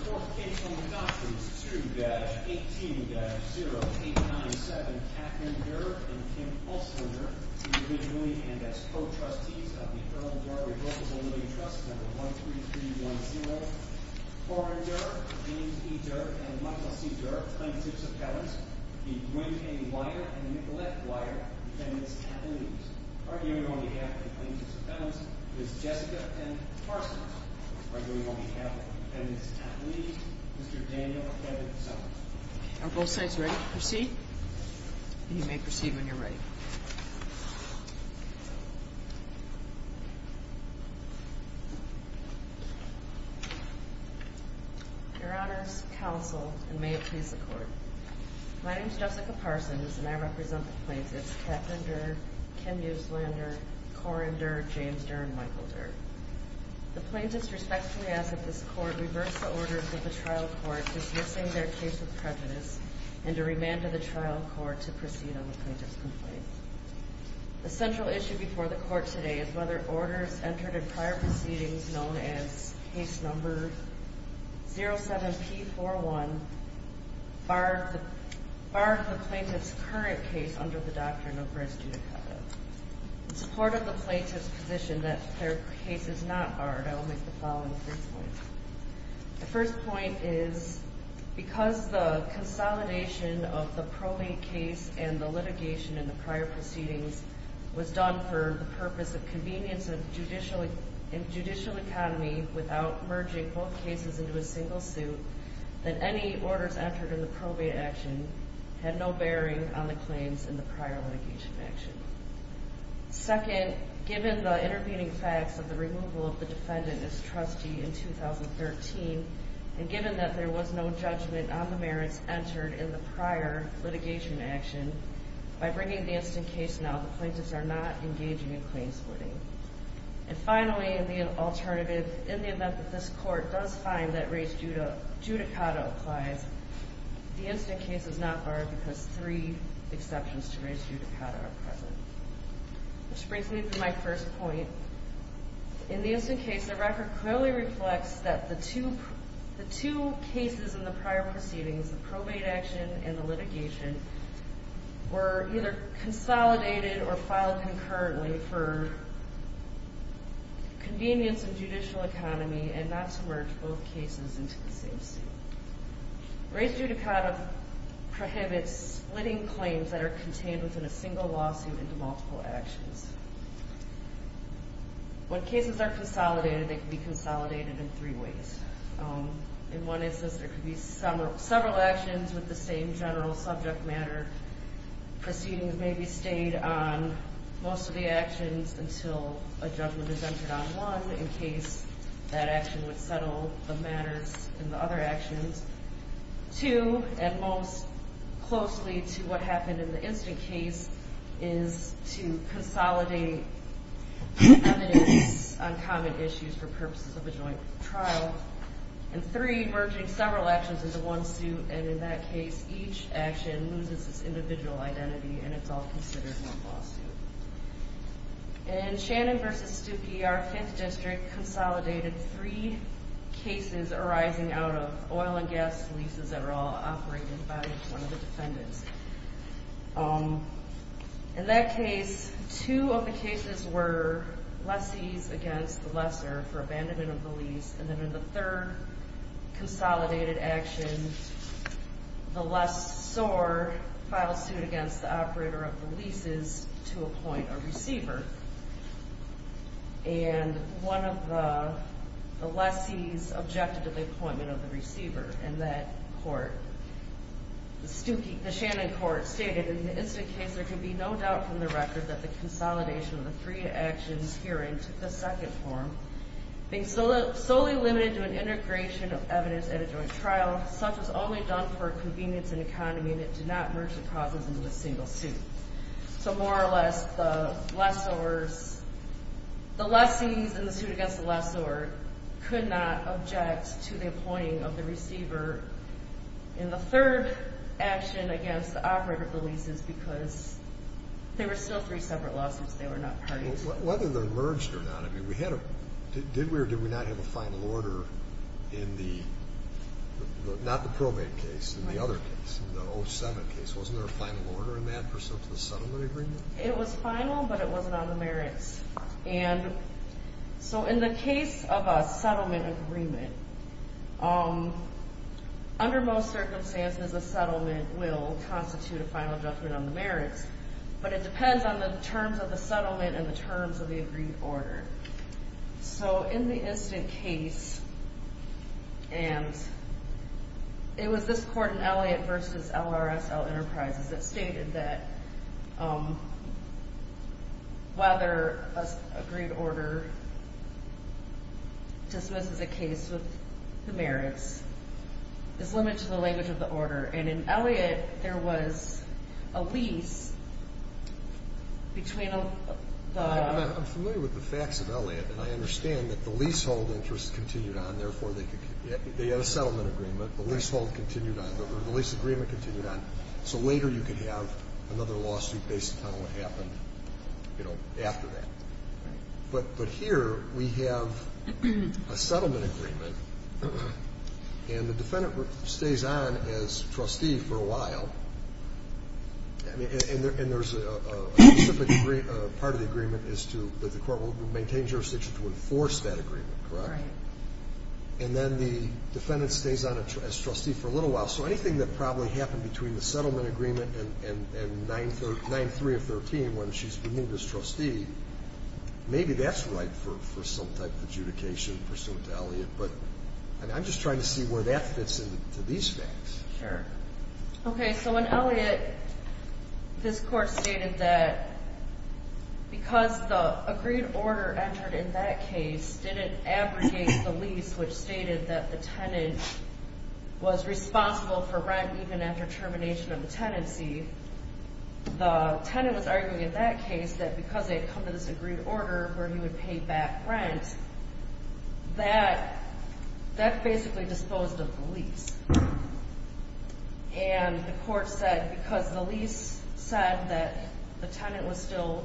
4th Caseholder Doctrines 2-18-0897 Catherine Durr and Kim Olsener, individually and as co-trustees of the Erle-Durr Revocable Million Trust No. 13310 Warren Durr, James E. Durr, and Michael C. Durr, plaintiffs' appellants The Gwynne A. Weyer and Nicolette Weyer, defendants' attorneys arguing on behalf of the plaintiffs' appellants, Ms. Jessica and Carson arguing on behalf of the defendants' attorneys, Mr. Daniel and Kevin Summers Are both sides ready to proceed? You may proceed when you're ready. Your Honors, Counsel, and may it please the Court. My name is Jessica Parsons, and I represent the plaintiffs Catherine Durr, Kim Euslander, Corin Durr, James Durr, and Michael Durr. The plaintiffs respectfully ask that this Court reverse the orders of the trial court dismissing their case of prejudice and to remand to the trial court to proceed on the plaintiff's complaint. The central issue before the Court today is whether orders entered in prior proceedings known as Case No. 07-P41 barred the plaintiff's current case under the Doctrine of Res judicata. In support of the plaintiffs' position that their case is not barred, I will make the following three points. The first point is because the consolidation of the probate case and the litigation in the prior proceedings was done for the purpose of convenience of the judicial economy without merging both cases into a single suit, that any orders entered in the probate action had no bearing on the claims in the prior litigation action. Second, given the intervening facts of the removal of the defendant as trustee in 2013, and given that there was no judgment on the merits entered in the prior litigation action, by bringing the instant case now, the plaintiffs are not engaging in claims splitting. And finally, in the alternative, in the event that this Court does find that Res judicata applies, the instant case is not barred because three exceptions to Res judicata are present. Which brings me to my first point. In the instant case, the record clearly reflects that the two cases in the prior proceedings, the probate action and the litigation, were either consolidated or filed concurrently for convenience of judicial economy and not to merge both cases into the same suit. Res judicata prohibits splitting claims that are contained within a single lawsuit into multiple actions. When cases are consolidated, they can be consolidated in three ways. In one instance, there could be several actions with the same general subject matter. Proceedings may be stayed on most of the actions until a judgment is entered on one, in case that action would settle the matters in the other actions. Two, and most closely to what happened in the instant case, is to consolidate evidence on common issues for purposes of a joint trial. And three, merging several actions into one suit, and in that case, each action loses its individual identity and it's all considered one lawsuit. In Shannon v. Stuckey, our fifth district consolidated three cases arising out of oil and gas leases that were all operated by one of the defendants. In that case, two of the cases were lessees against the lesser for abandonment of the lease, and then in the third consolidated action, the lessor filed suit against the operator of the leases to appoint a receiver. And one of the lessees objected to the appointment of the receiver in that court. The Stuckey, the three actions herein took the second form. Being solely limited to an integration of evidence at a joint trial, such was only done for convenience and economy, and it did not merge the causes into a single suit. So more or less, the lessors, the lessees in the suit against the lessor could not object to the appointing of the receiver. And the third action against the operator of the leases because there were still three separate lawsuits they were not parties to. Whether they merged or not, did we or did we not have a final order in the, not the probate case, in the other case, the 07 case, wasn't there a final order in that pursuant to the settlement agreement? It was final, but it wasn't on the merits. And so in the case of a settlement agreement, under most circumstances, a settlement will constitute a final judgment on the merits, but it depends on the terms of the settlement and the terms of the agreed order. So in the instant case, and it was this court in Elliott v. LRSL Enterprises that stated that whether an agreed order dismisses a case with the merits is limited to the language of the order. And in Elliott, there was a lease between the... I'm familiar with the facts of Elliott, and I understand that the leasehold interest continued on. Therefore, they had a settlement agreement. The leasehold continued on. The lease agreement continued on. So later, you could have another lawsuit based upon what happened, you know, after that. But here, we have a settlement agreement, and the defendant stays on as trustee for a while, and there's a part of the agreement is to, that the court will maintain jurisdiction to enforce that agreement, correct? And then the defendant stays on as trustee for a little while. So anything that probably happened between the settlement agreement and 9-3 of 13, when she's removed as trustee, maybe that's right for some type of adjudication pursuant to Elliott, but I'm just trying to see where that fits into these facts. Okay, so in Elliott, this court stated that because the agreed order entered in that case didn't abrogate the lease, which stated that the tenant was responsible for rent even after termination of the tenancy, the tenant was arguing in that case that because they had come to this agreed order where he would pay back rent, that basically disposed of the lease. And the court said because the lease said that the tenant was still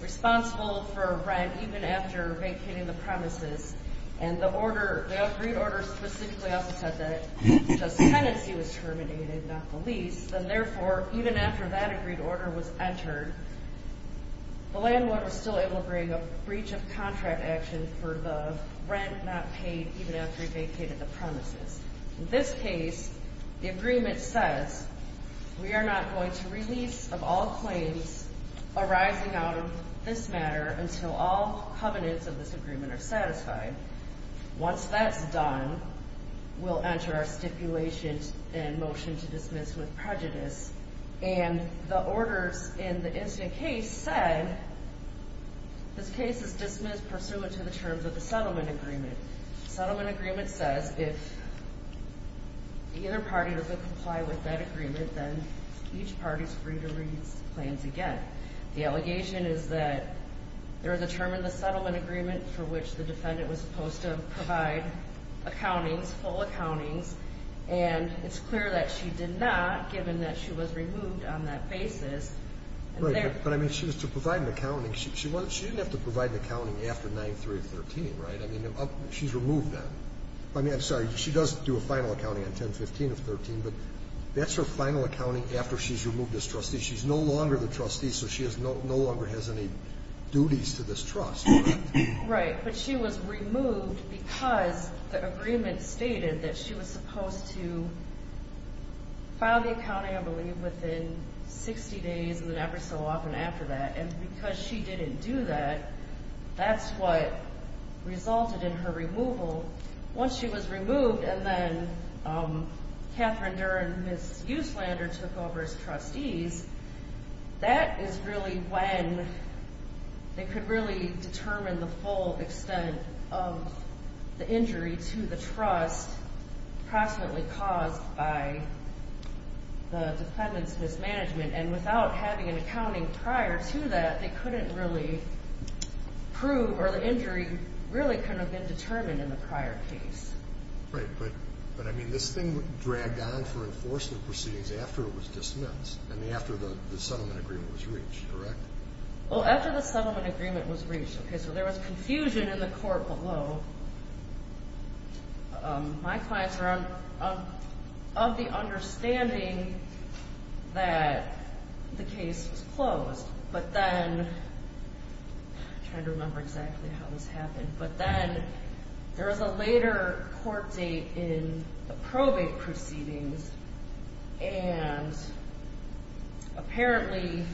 responsible for rent even after vacating the premises, and the order, the agreed order specifically also said that the tenancy was terminated, not the lease, then therefore, even after that agreed order was entered, the landlord was still able to bring a breach of contract action for the rent not paid even after he vacated the premises. In this case, the agreement says we are not going to release of all claims arising out of this matter until all covenants of this agreement are satisfied. Once that's done, we'll enter our stipulations and motion to dismiss with prejudice. And the orders in the incident case said, this case is dismissed pursuant to the terms of the settlement agreement. Settlement agreement says if either party doesn't comply with that agreement, then each party is free to release plans again. The allegation is that there is a term in the settlement agreement for which the defendant was supposed to provide accountings, full accountings, and it's clear that she did not, given that she was removed on that basis. Right, but I mean, she was to provide an accounting. She didn't have to provide an accounting after 9-3-13, right? I mean, she's removed then. I mean, I'm sorry, she does do a final accounting on 10-15-13, but that's her final accounting after she's removed as trustee. She's no longer the trustee, so she no longer has any duties to this trust. Right, but she was removed because the agreement stated that she was supposed to file the accounting, I believe, within 60 days and then every so often after that, and because she didn't do that, that's what resulted in her removal. Once she was removed, and then Catherine Dern, Ms. Euslander, took over as trustees, that is really when they could really determine the full extent of the injury to the trust approximately caused by the defendant's mismanagement. And without having an accounting prior to that, they couldn't really prove or the injury really couldn't have been determined in the prior case. Right, but I mean, this thing dragged on for enforcement proceedings after it was dismissed, I mean, after the settlement agreement was reached, correct? Well, after the settlement agreement was reached, okay, so there was confusion in the court below. My clients were of the understanding that the case was closed, but then I'm trying to remember exactly how this happened, but then there was a later court date in the probate proceedings and apparently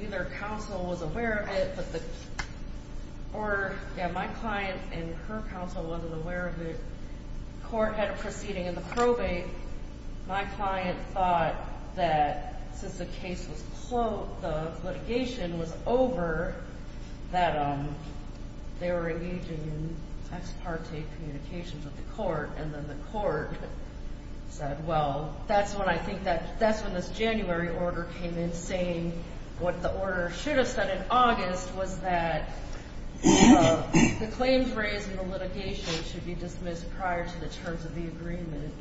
neither counsel was aware of it, or my client and her counsel wasn't aware of it. The court had a proceeding in the probate. My client thought that since the case was closed, the litigation was over, that they were engaging in ex parte communications with the court, and then the court said, well, that's when I think that's when this January order came in saying what the order should have said in August was that the claims raised in the litigation should be dismissed prior to the terms of the agreement,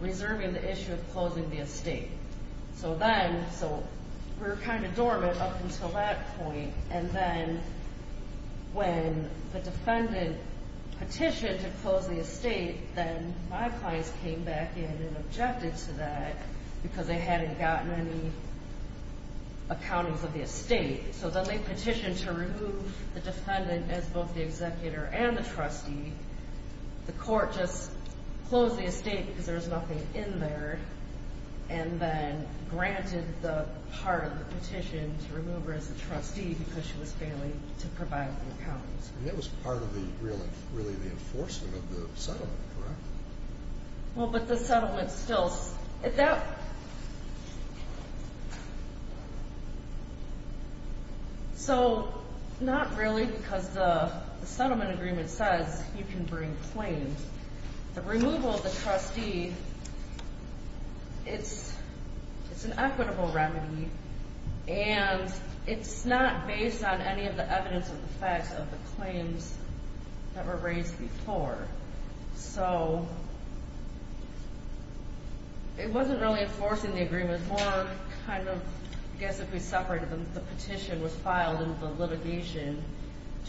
reserving the issue of closing the estate. So then, so we were kind of dormant up until that point, and then when the defendant petitioned to close the estate, then my clients came back in and objected to that because they hadn't gotten any accountings of the estate. So then they petitioned to not just close the estate because there was nothing in there, and then granted the part of the petition to remove her as a trustee because she was failing to provide the accountings. And that was part of the, really the enforcement of the settlement, correct? Well, but the settlement still, so not really because the removal of the trustee, it's an equitable remedy, and it's not based on any of the evidence of the facts of the claims that were raised before. So it wasn't really enforcing the agreement, more kind of, I guess if we separate it, the petition was filed in the litigation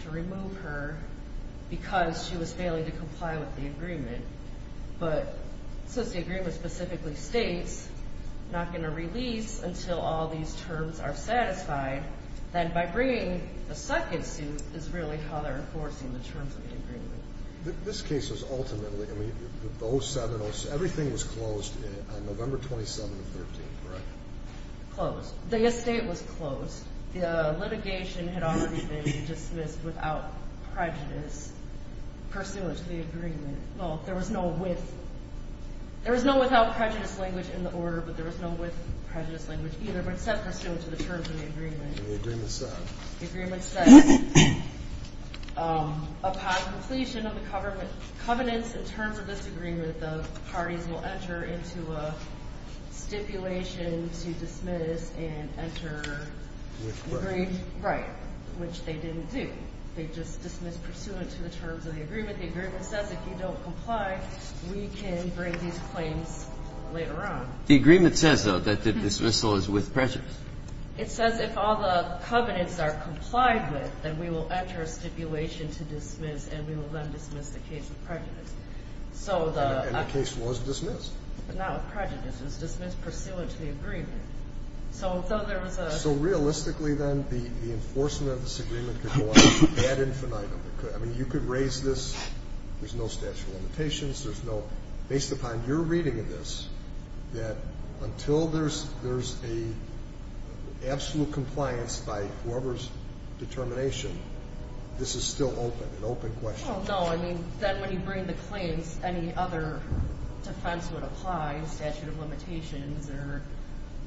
to remove her because she was failing to comply with the agreement. But since the agreement specifically states not going to release until all these terms are satisfied, then by bringing a second suit is really how they're enforcing the terms of the agreement. This case was ultimately, I mean, the 07, everything was closed on November 27th and 13th, correct? Closed. The estate was closed. The litigation had already been dismissed without prejudice pursuant to the agreement. There was no without prejudice language in the order, but there was no with prejudice language either, except pursuant to the terms of the agreement. The agreement says, upon completion of the covenants in terms of this agreement, the parties will enter into a stipulation to dismiss and enter with prejudice. Right, which they didn't do. They just dismissed pursuant to the terms of the agreement. The agreement says if you don't comply, we can bring these claims later on. The agreement says, though, that the dismissal is with prejudice. It says if all the covenants are complied with, then we will enter a stipulation to dismiss and we will then dismiss the case with prejudice. And the case was dismissed. But not with prejudice. It was dismissed pursuant to the agreement. So there was a So realistically, then, the enforcement of this agreement could go on ad infinitum. I mean, you could raise this. There's no statute of limitations. There's no, based upon your reading of this, that until there's a absolute compliance by whoever's determination, this is still open, an open question. Well, no, I mean, then when you bring the claims, any other defense would apply, statute of limitations or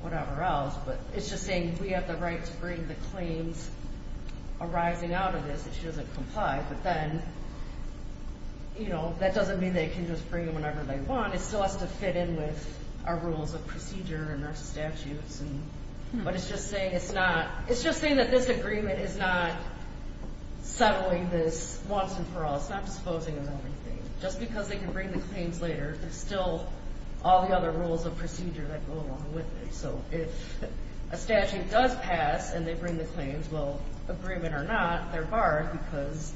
whatever else. But it's just saying we have the right to bring the claims arising out of this if she doesn't comply. But then, you know, that doesn't mean they can just bring them whenever they want. It still has to fit in with our rules of procedure and our statutes. But it's just saying it's not, it's just saying that this agreement is not settling this once and for all. It's not disposing of everything. Just because they can bring the claims later, there's still all the other rules of procedure that go along with it. So if a statute does pass and they bring the claims, well, agreement or not, they're barred because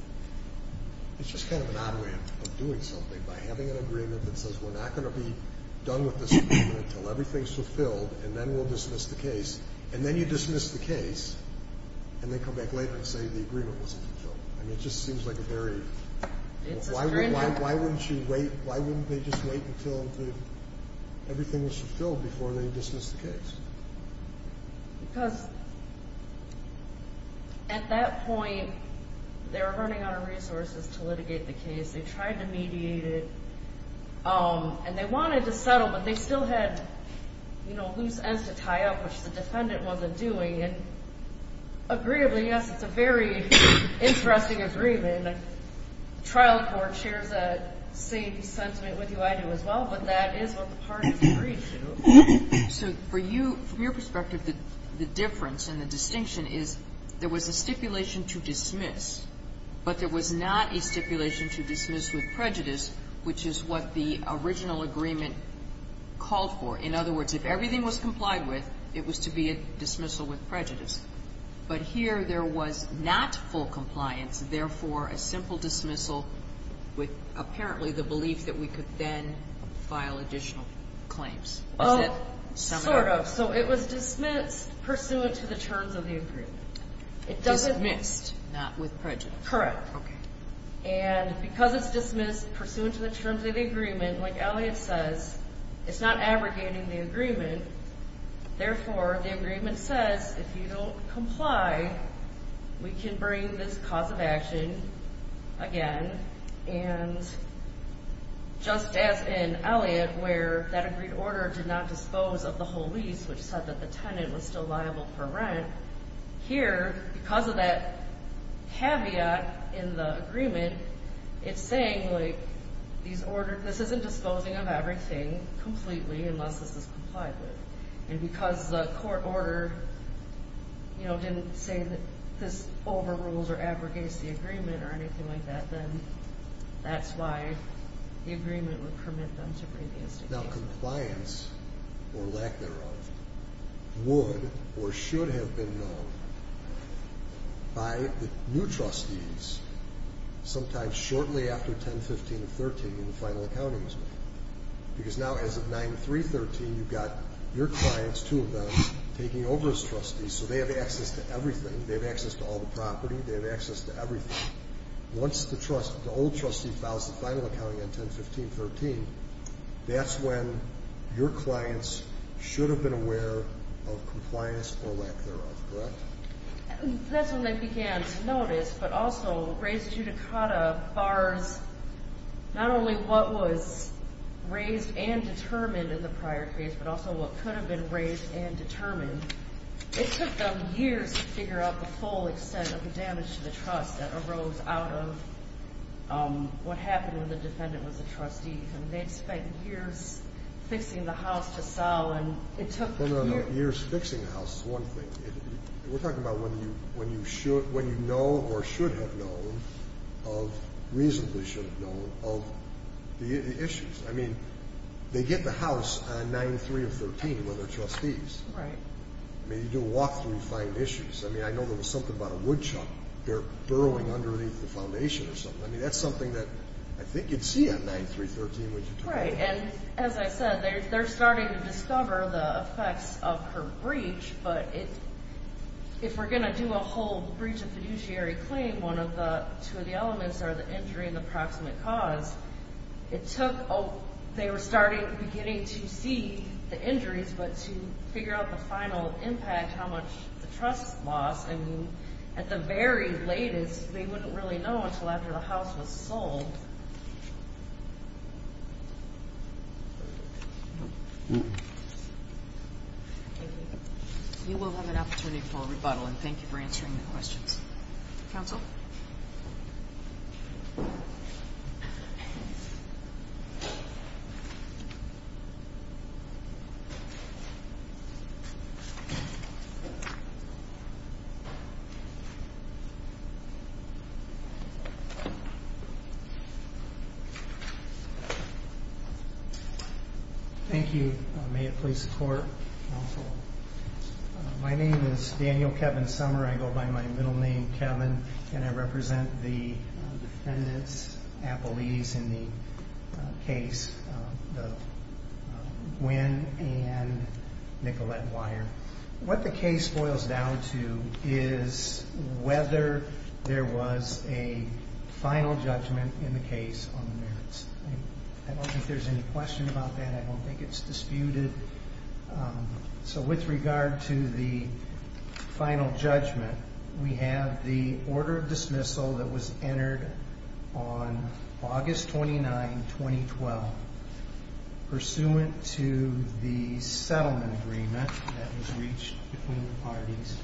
it's just kind of an odd way of doing something, by having an agreement that says we're not going to be done with this agreement until everything's fulfilled, and then we'll dismiss the case. And then you dismiss the case, and they come back later and say the agreement wasn't fulfilled. I mean, it just seems like a very, why wouldn't you wait, why wouldn't they just wait until everything was fulfilled before they dismiss the case? Because at that point, they were running out of resources to litigate the case. They tried to mediate it, and they wanted to settle, but they still had loose ends to tie up, which the defendant wasn't doing. And agreeably, yes, it's a very interesting agreement. The trial court shares that same sentiment with you. I do as well, but that is what the parties agreed to. So for you, from your perspective, the difference and the distinction is there was a stipulation to dismiss, but there was not a stipulation to dismiss with prejudice, which is what the original agreement called for. In other words, if everything was complied with, it was to be a dismissal with prejudice. But here there was not full compliance, therefore a simple dismissal with apparently the belief that we could then file additional claims. Is that some of that? Sort of. So it was dismissed pursuant to the terms of the agreement. Dismissed, not with prejudice. Correct. Okay. And because it's dismissed pursuant to the terms of the agreement, like Elliot says, it's not abrogating the agreement. Therefore, the agreement says if you don't comply, we can bring this cause of action again. And just as in Elliot, where that agreed order did not dispose of the whole lease, which said that the tenant was still liable for rent, here, because of that caveat in the agreement, it's saying, like, this isn't disposing of everything completely unless this is complied with. And because the court order, you know, didn't say that this overrules or abrogates the agreement or anything like that, then that's why the agreement would permit them to bring this. Now, compliance, or lack thereof, would or should have been known by the new trustees sometime shortly after 10-15-13 in the final accountings. Because now, as of 9-3-13, you've got your clients, two of them, taking over as trustees, so they have access to everything. They have access to all the property. They have access to everything. Once the old trustee files the final accounting on 10-15-13, that's when your clients should have been aware of compliance or lack thereof, correct? That's when they began to notice, but also raised judicata bars not only what was raised and determined in the prior case, but also what could have been raised and determined. It took them years to figure out the full extent of the damage to the trust that arose out of what happened when the defendant was a trustee. They'd spent years fixing the house to sell, and it took years. No, no, no, years fixing the house is one thing. We're talking about when you know or should have known, or reasonably should have known, of the issues. I mean, they get the house on 9-3-13 where they're trustees. Right. I mean, you do a walkthrough, you find issues. I mean, I know there was something about a woodchuck they're burrowing underneath the foundation or something. I mean, that's something that I think you'd see on 9-3-13. Right, and as I said, they're starting to discover the effects of her breach. But if we're going to do a whole breach of fiduciary claim, two of the elements are the injury and the proximate cause. They were beginning to see the injuries, but to figure out the final impact, how much the trust lost. I mean, at the very latest, they wouldn't really know until after the house was sold. You will have an opportunity for a rebuttal, and thank you for answering the questions. Counsel. Thank you. May it please the Court. My name is Daniel Kevin Sommer. I go by my middle name, Kevin, and I represent the defendants, appellees in the case, Gwynne and Nicolette Weyer. What the case boils down to is whether there was a final judgment in the case on the merits. I don't think there's any question about that. I don't think it's disputed. So with regard to the final judgment, we have the order of dismissal that was entered on August 29, 2012, pursuant to the settlement agreement that was reached between the parties.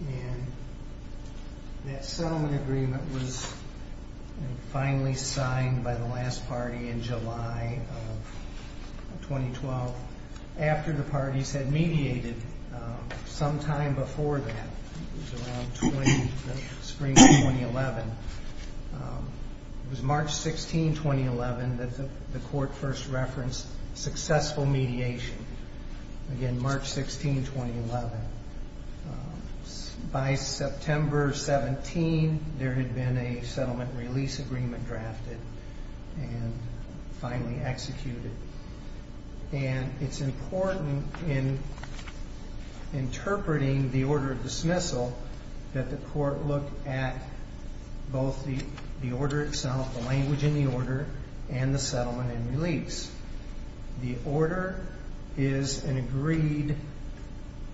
And that settlement agreement was finally signed by the last party in July of 2012, after the parties had mediated sometime before that. It was around the spring of 2011. It was March 16, 2011, that the Court first referenced successful mediation. Again, March 16, 2011. By September 17, there had been a settlement release agreement drafted and finally executed. And it's important in interpreting the order of dismissal that the Court look at both the order itself, the language in the order, and the settlement and release. The order is an agreed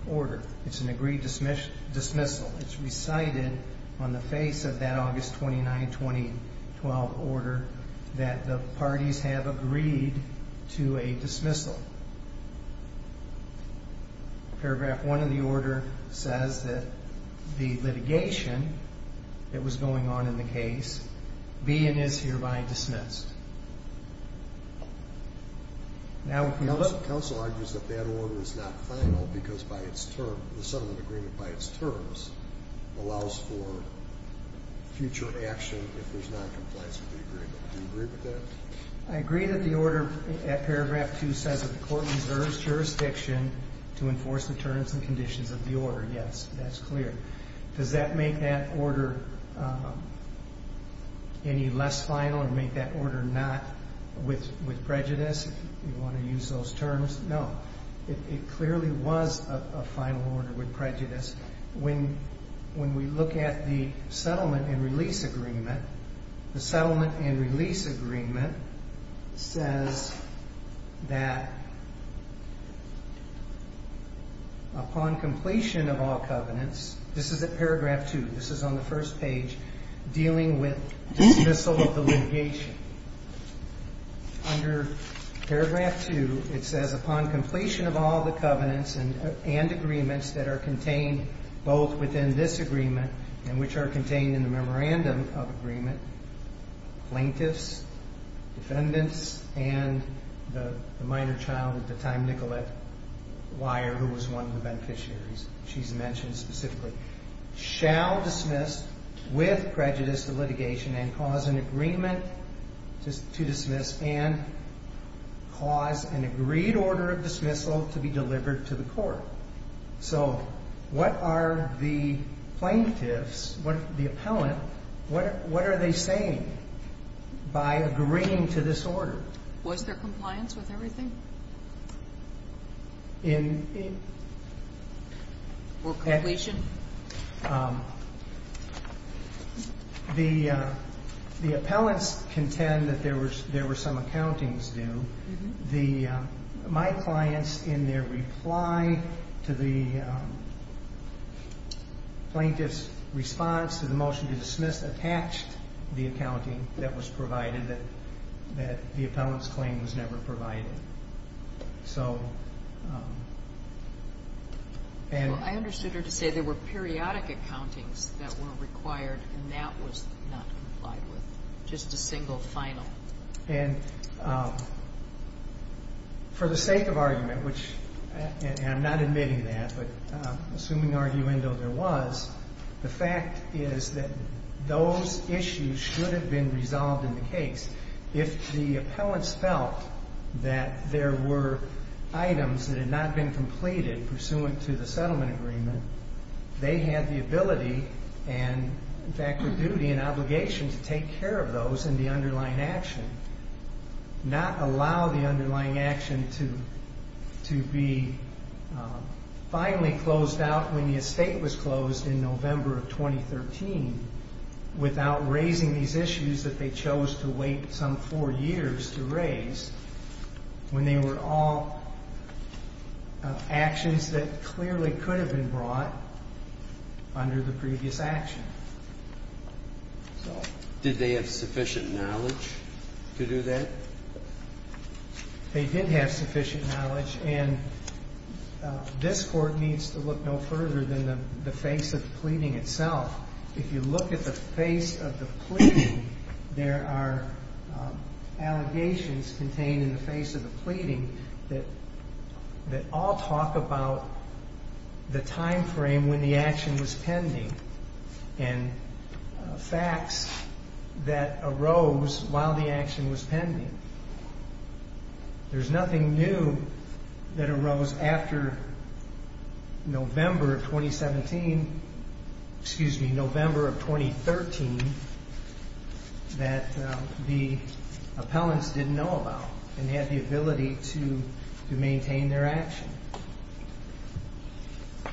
order. It's an agreed dismissal. It's recited on the face of that August 29, 2012 order that the parties have agreed to a dismissal. Paragraph 1 of the order says that the litigation that was going on in the case be and is hereby dismissed. Now if you look... Counsel argues that that order is not final because by its term, the settlement agreement by its terms, allows for future action if there's noncompliance with the agreement. Do you agree with that? I agree that the order at paragraph 2 says that the Court reserves jurisdiction to enforce the terms and conditions of the order. Yes, that's clear. Does that make that order any less final or make that order not with prejudice, if you want to use those terms? No. It clearly was a final order with prejudice. When we look at the settlement and release agreement, the settlement and release agreement says that upon completion of all covenants, this is at paragraph 2, this is on the first page, dealing with dismissal of the litigation. Under paragraph 2, it says upon completion of all the covenants and agreements that are contained both within this agreement and which are contained in the memorandum of agreement, plaintiffs, defendants, and the minor child at the time, Nicolette Weyer, who was one of the beneficiaries she's mentioned specifically, shall dismiss with prejudice the litigation and cause an agreement to dismiss and cause an agreed order of dismissal to be delivered to the Court. So what are the plaintiffs, the appellant, what are they saying by agreeing to this order? Was there compliance with everything? In? Or completion? The appellants contend that there were some accountings due. My clients, in their reply to the plaintiff's response to the motion to dismiss, attached the accounting that was provided, that the appellant's claim was never provided. I understood her to say there were periodic accountings that were required, and that was not complied with, just a single final. And for the sake of argument, which I'm not admitting that, but assuming arguendo there was, the fact is that those issues should have been resolved in the case. If the appellants felt that there were items that had not been completed pursuant to the settlement agreement, they had the ability and, in fact, the duty and obligation to take care of those in the underlying action, not allow the underlying action to be finally closed out when the estate was closed in November of 2013, without raising these issues that they chose to wait some four years to raise, when they were all actions that clearly could have been brought under the previous action. Did they have sufficient knowledge to do that? They did have sufficient knowledge, and this Court needs to look no further than the face of the pleading itself. If you look at the face of the pleading, there are allegations contained in the face of the pleading that all talk about the time frame when the action was pending and facts that arose while the action was pending. There's nothing new that arose after November of 2017, excuse me, November of 2013, that the appellants didn't know about and had the ability to maintain their action. I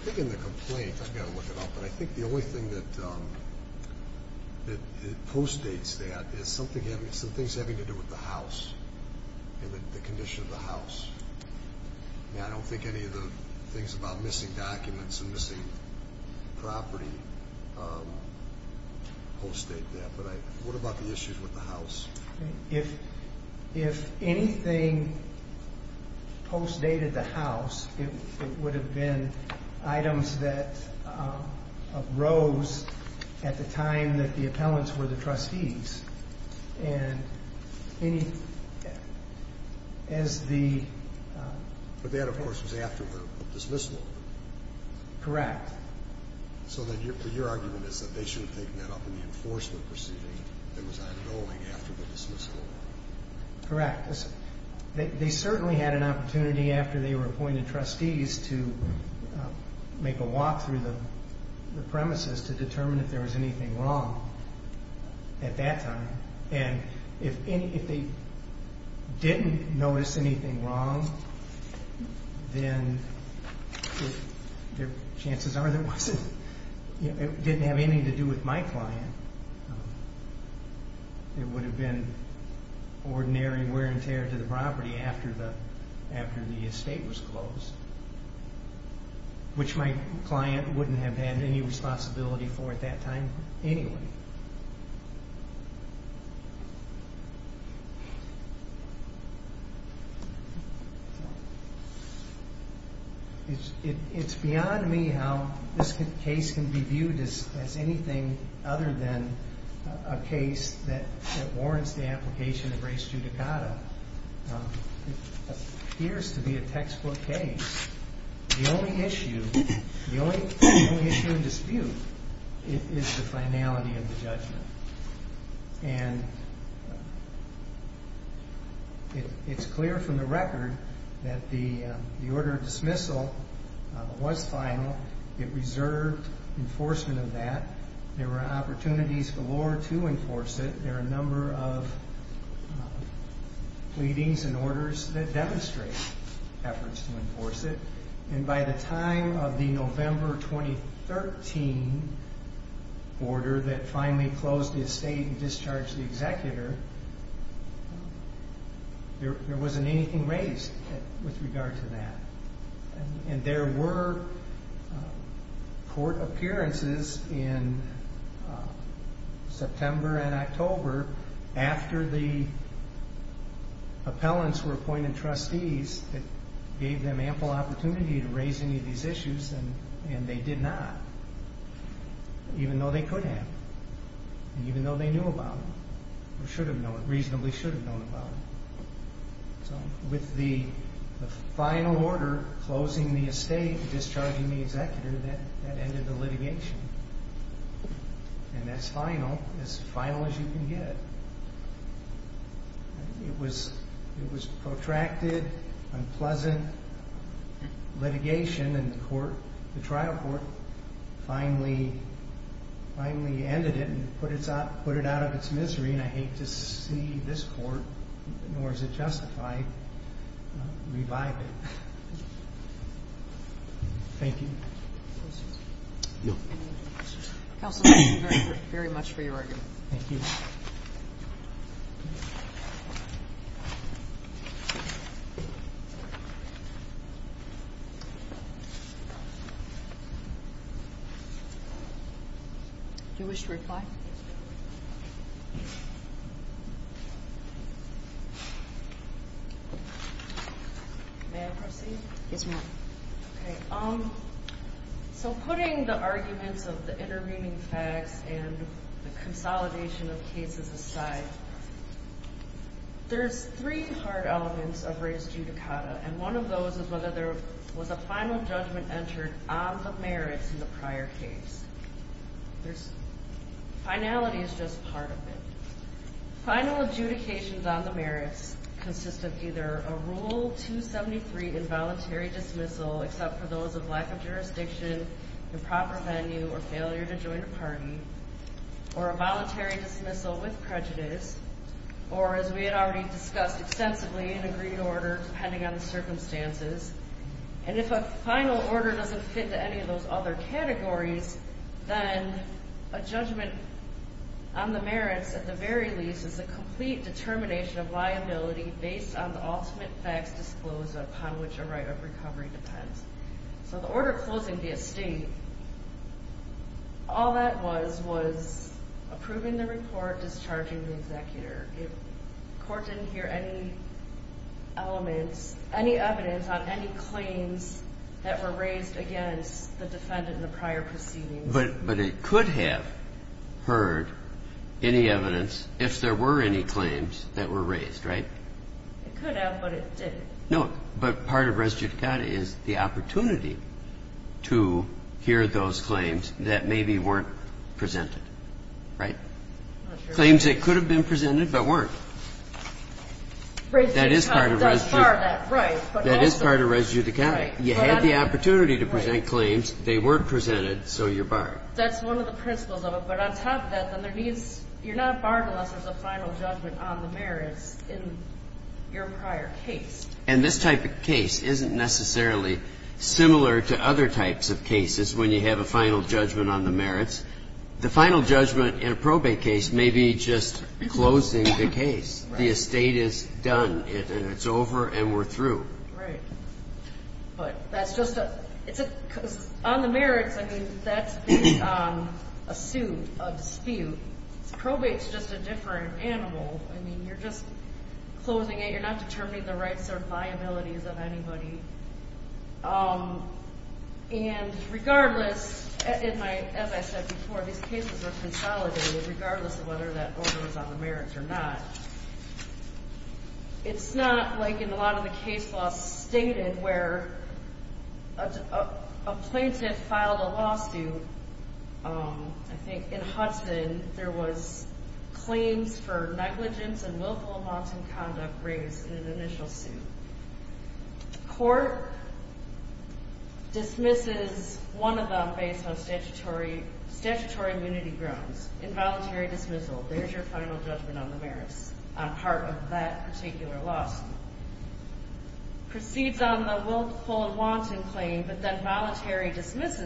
think in the complaint, I've got to look it up, but I think the only thing that postdates that is some things having to do with the house and the condition of the house. I don't think any of the things about missing documents and missing property postdate that. What about the issues with the house? If anything postdated the house, it would have been items that arose at the time that the appellants were the trustees. But that, of course, was after the dismissal. Correct. So then your argument is that they should have taken that up in the enforcement proceeding that was ongoing after the dismissal? Correct. They certainly had an opportunity after they were appointed trustees to make a walk through the premises to determine if there was anything wrong at that time. And if they didn't notice anything wrong, then chances are it didn't have anything to do with my client. It would have been ordinary wear and tear to the property after the estate was closed, which my client wouldn't have had any responsibility for at that time anyway. It's beyond me how this case can be viewed as anything other than a case that warrants the application of res judicata. It appears to be a textbook case. The only issue, the only issue in dispute, is the finality of the judgment. And it's clear from the record that the order of dismissal was final. It reserved enforcement of that. There were opportunities galore to enforce it. There are a number of pleadings and orders that demonstrate efforts to enforce it. And by the time of the November 2013 order that finally closed the estate and discharged the executor, there wasn't anything raised with regard to that. And there were court appearances in September and October after the appellants were appointed trustees that gave them ample opportunity to raise any of these issues, and they did not, even though they could have, and even though they knew about them, or should have known, reasonably should have known about them. So with the final order closing the estate and discharging the executor, that ended the litigation. And that's final, as final as you can get. It was protracted, unpleasant litigation, and the trial court finally ended it and put it out of its misery, and I hate to see this court, nor is it justified, revive it. Thank you. Any other questions? Counsel, thank you very much for your argument. Thank you. Do you wish to reply? May I proceed? Yes, ma'am. Okay. So putting the arguments of the intervening facts and the consolidation of cases aside, there's three hard elements of res judicata, and one of those is whether there was a final judgment entered on the merits in the prior case. Finality is just part of it. Final adjudications on the merits consist of either a Rule 273 involuntary dismissal, except for those of lack of jurisdiction, improper venue, or failure to join a party, or a voluntary dismissal with prejudice, or, as we had already discussed extensively, an agreed order depending on the circumstances. And if a final order doesn't fit to any of those other categories, then a judgment on the merits, at the very least, is a complete determination of liability based on the ultimate facts disclosed upon which a right of recovery depends. So the order closing the estate, all that was was approving the report, discharging the executor. The court didn't hear any elements, any evidence on any claims that were raised against the defendant in the prior proceedings. But it could have heard any evidence if there were any claims that were raised, right? It could have, but it didn't. No, but part of res judicata is the opportunity to hear those claims that maybe weren't presented, right? Claims that could have been presented but weren't. Res judicata does bar that, right. That is part of res judicata. You had the opportunity to present claims. They weren't presented, so you're barred. That's one of the principles of it. But on top of that, you're not barred unless there's a final judgment on the merits in your prior case. And this type of case isn't necessarily similar to other types of cases when you have a final judgment on the merits. The final judgment in a probate case may be just closing the case. The estate is done. It's over and we're through. Right. Because on the merits, I mean, that's a suit, a dispute. Probate's just a different animal. I mean, you're just closing it. You're not determining the rights or liabilities of anybody. And regardless, as I said before, these cases are consolidated regardless of whether that order is on the merits or not. It's not like in a lot of the case laws stated where a plaintiff filed a lawsuit. I think in Hudson there was claims for negligence and willful amounts in conduct raised in an initial suit. Court dismisses one of them based on statutory immunity grounds. Involuntary dismissal. There's your final judgment on the merits on part of that particular lawsuit. Proceeds on the willful and wanton claim, but then voluntarily dismisses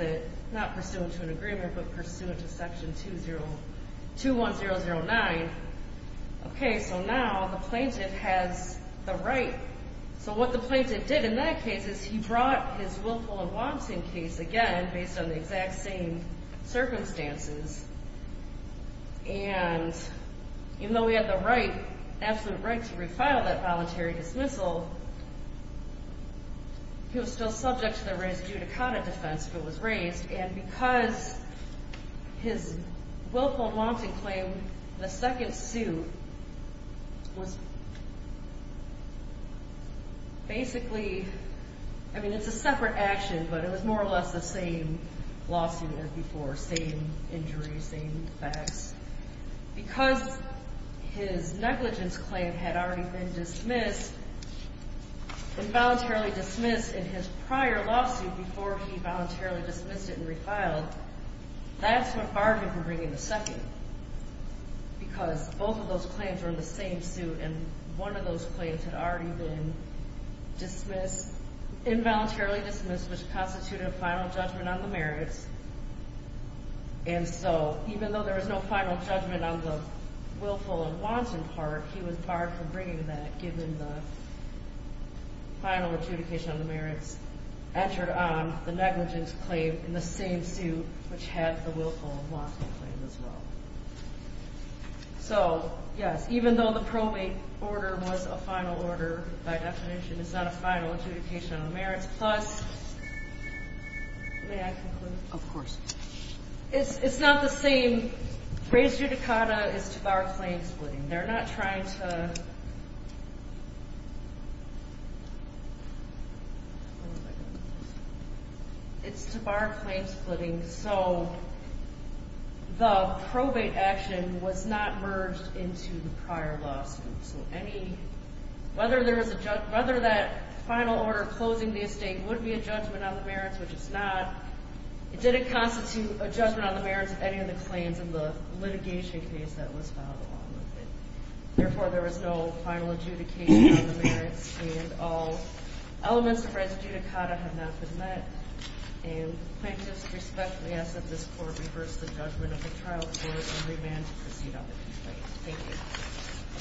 it, not pursuant to an agreement, but pursuant to Section 21009. Okay, so now the plaintiff has the right. So what the plaintiff did in that case is he brought his willful and wanton case again based on the exact same circumstances. And even though he had the right, absolute right, to refile that voluntary dismissal, he was still subject to the res judicata defense if it was raised. And because his willful and wanton claim in the second suit was basically, I mean, it's a separate action, but it was more or less the same lawsuit as before, same injuries, same facts. Because his negligence claim had already been dismissed and voluntarily dismissed in his prior lawsuit before he voluntarily dismissed it and refiled, that's what barred him from bringing the second because both of those claims were in the same suit and one of those claims had already been dismissed, involuntarily dismissed, which constituted a final judgment on the merits. And so even though there was no final judgment on the willful and wanton part, he was barred from bringing that given the final adjudication on the merits, entered on the negligence claim in the same suit, which had the willful and wanton claim as well. So, yes, even though the probate order was a final order by definition, it's not a final adjudication on the merits. Plus, may I conclude? Of course. It's not the same. Res judicata is to bar claim splitting. They're not trying to... It's to bar claim splitting. So the probate action was not merged into the prior lawsuit. So whether that final order closing the estate would be a judgment on the merits, which it's not, it didn't constitute a judgment on the merits of any of the claims in the litigation case that was filed along with it. Therefore, there was no final adjudication on the merits and all elements of res judicata have not been met. I just respectfully ask that this court reverse the judgment of the trial and remand to proceed on the complaint. Thank you.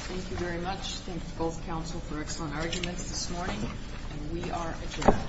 Thank you very much. Thank both counsel for excellent arguments this morning. And we are adjourned.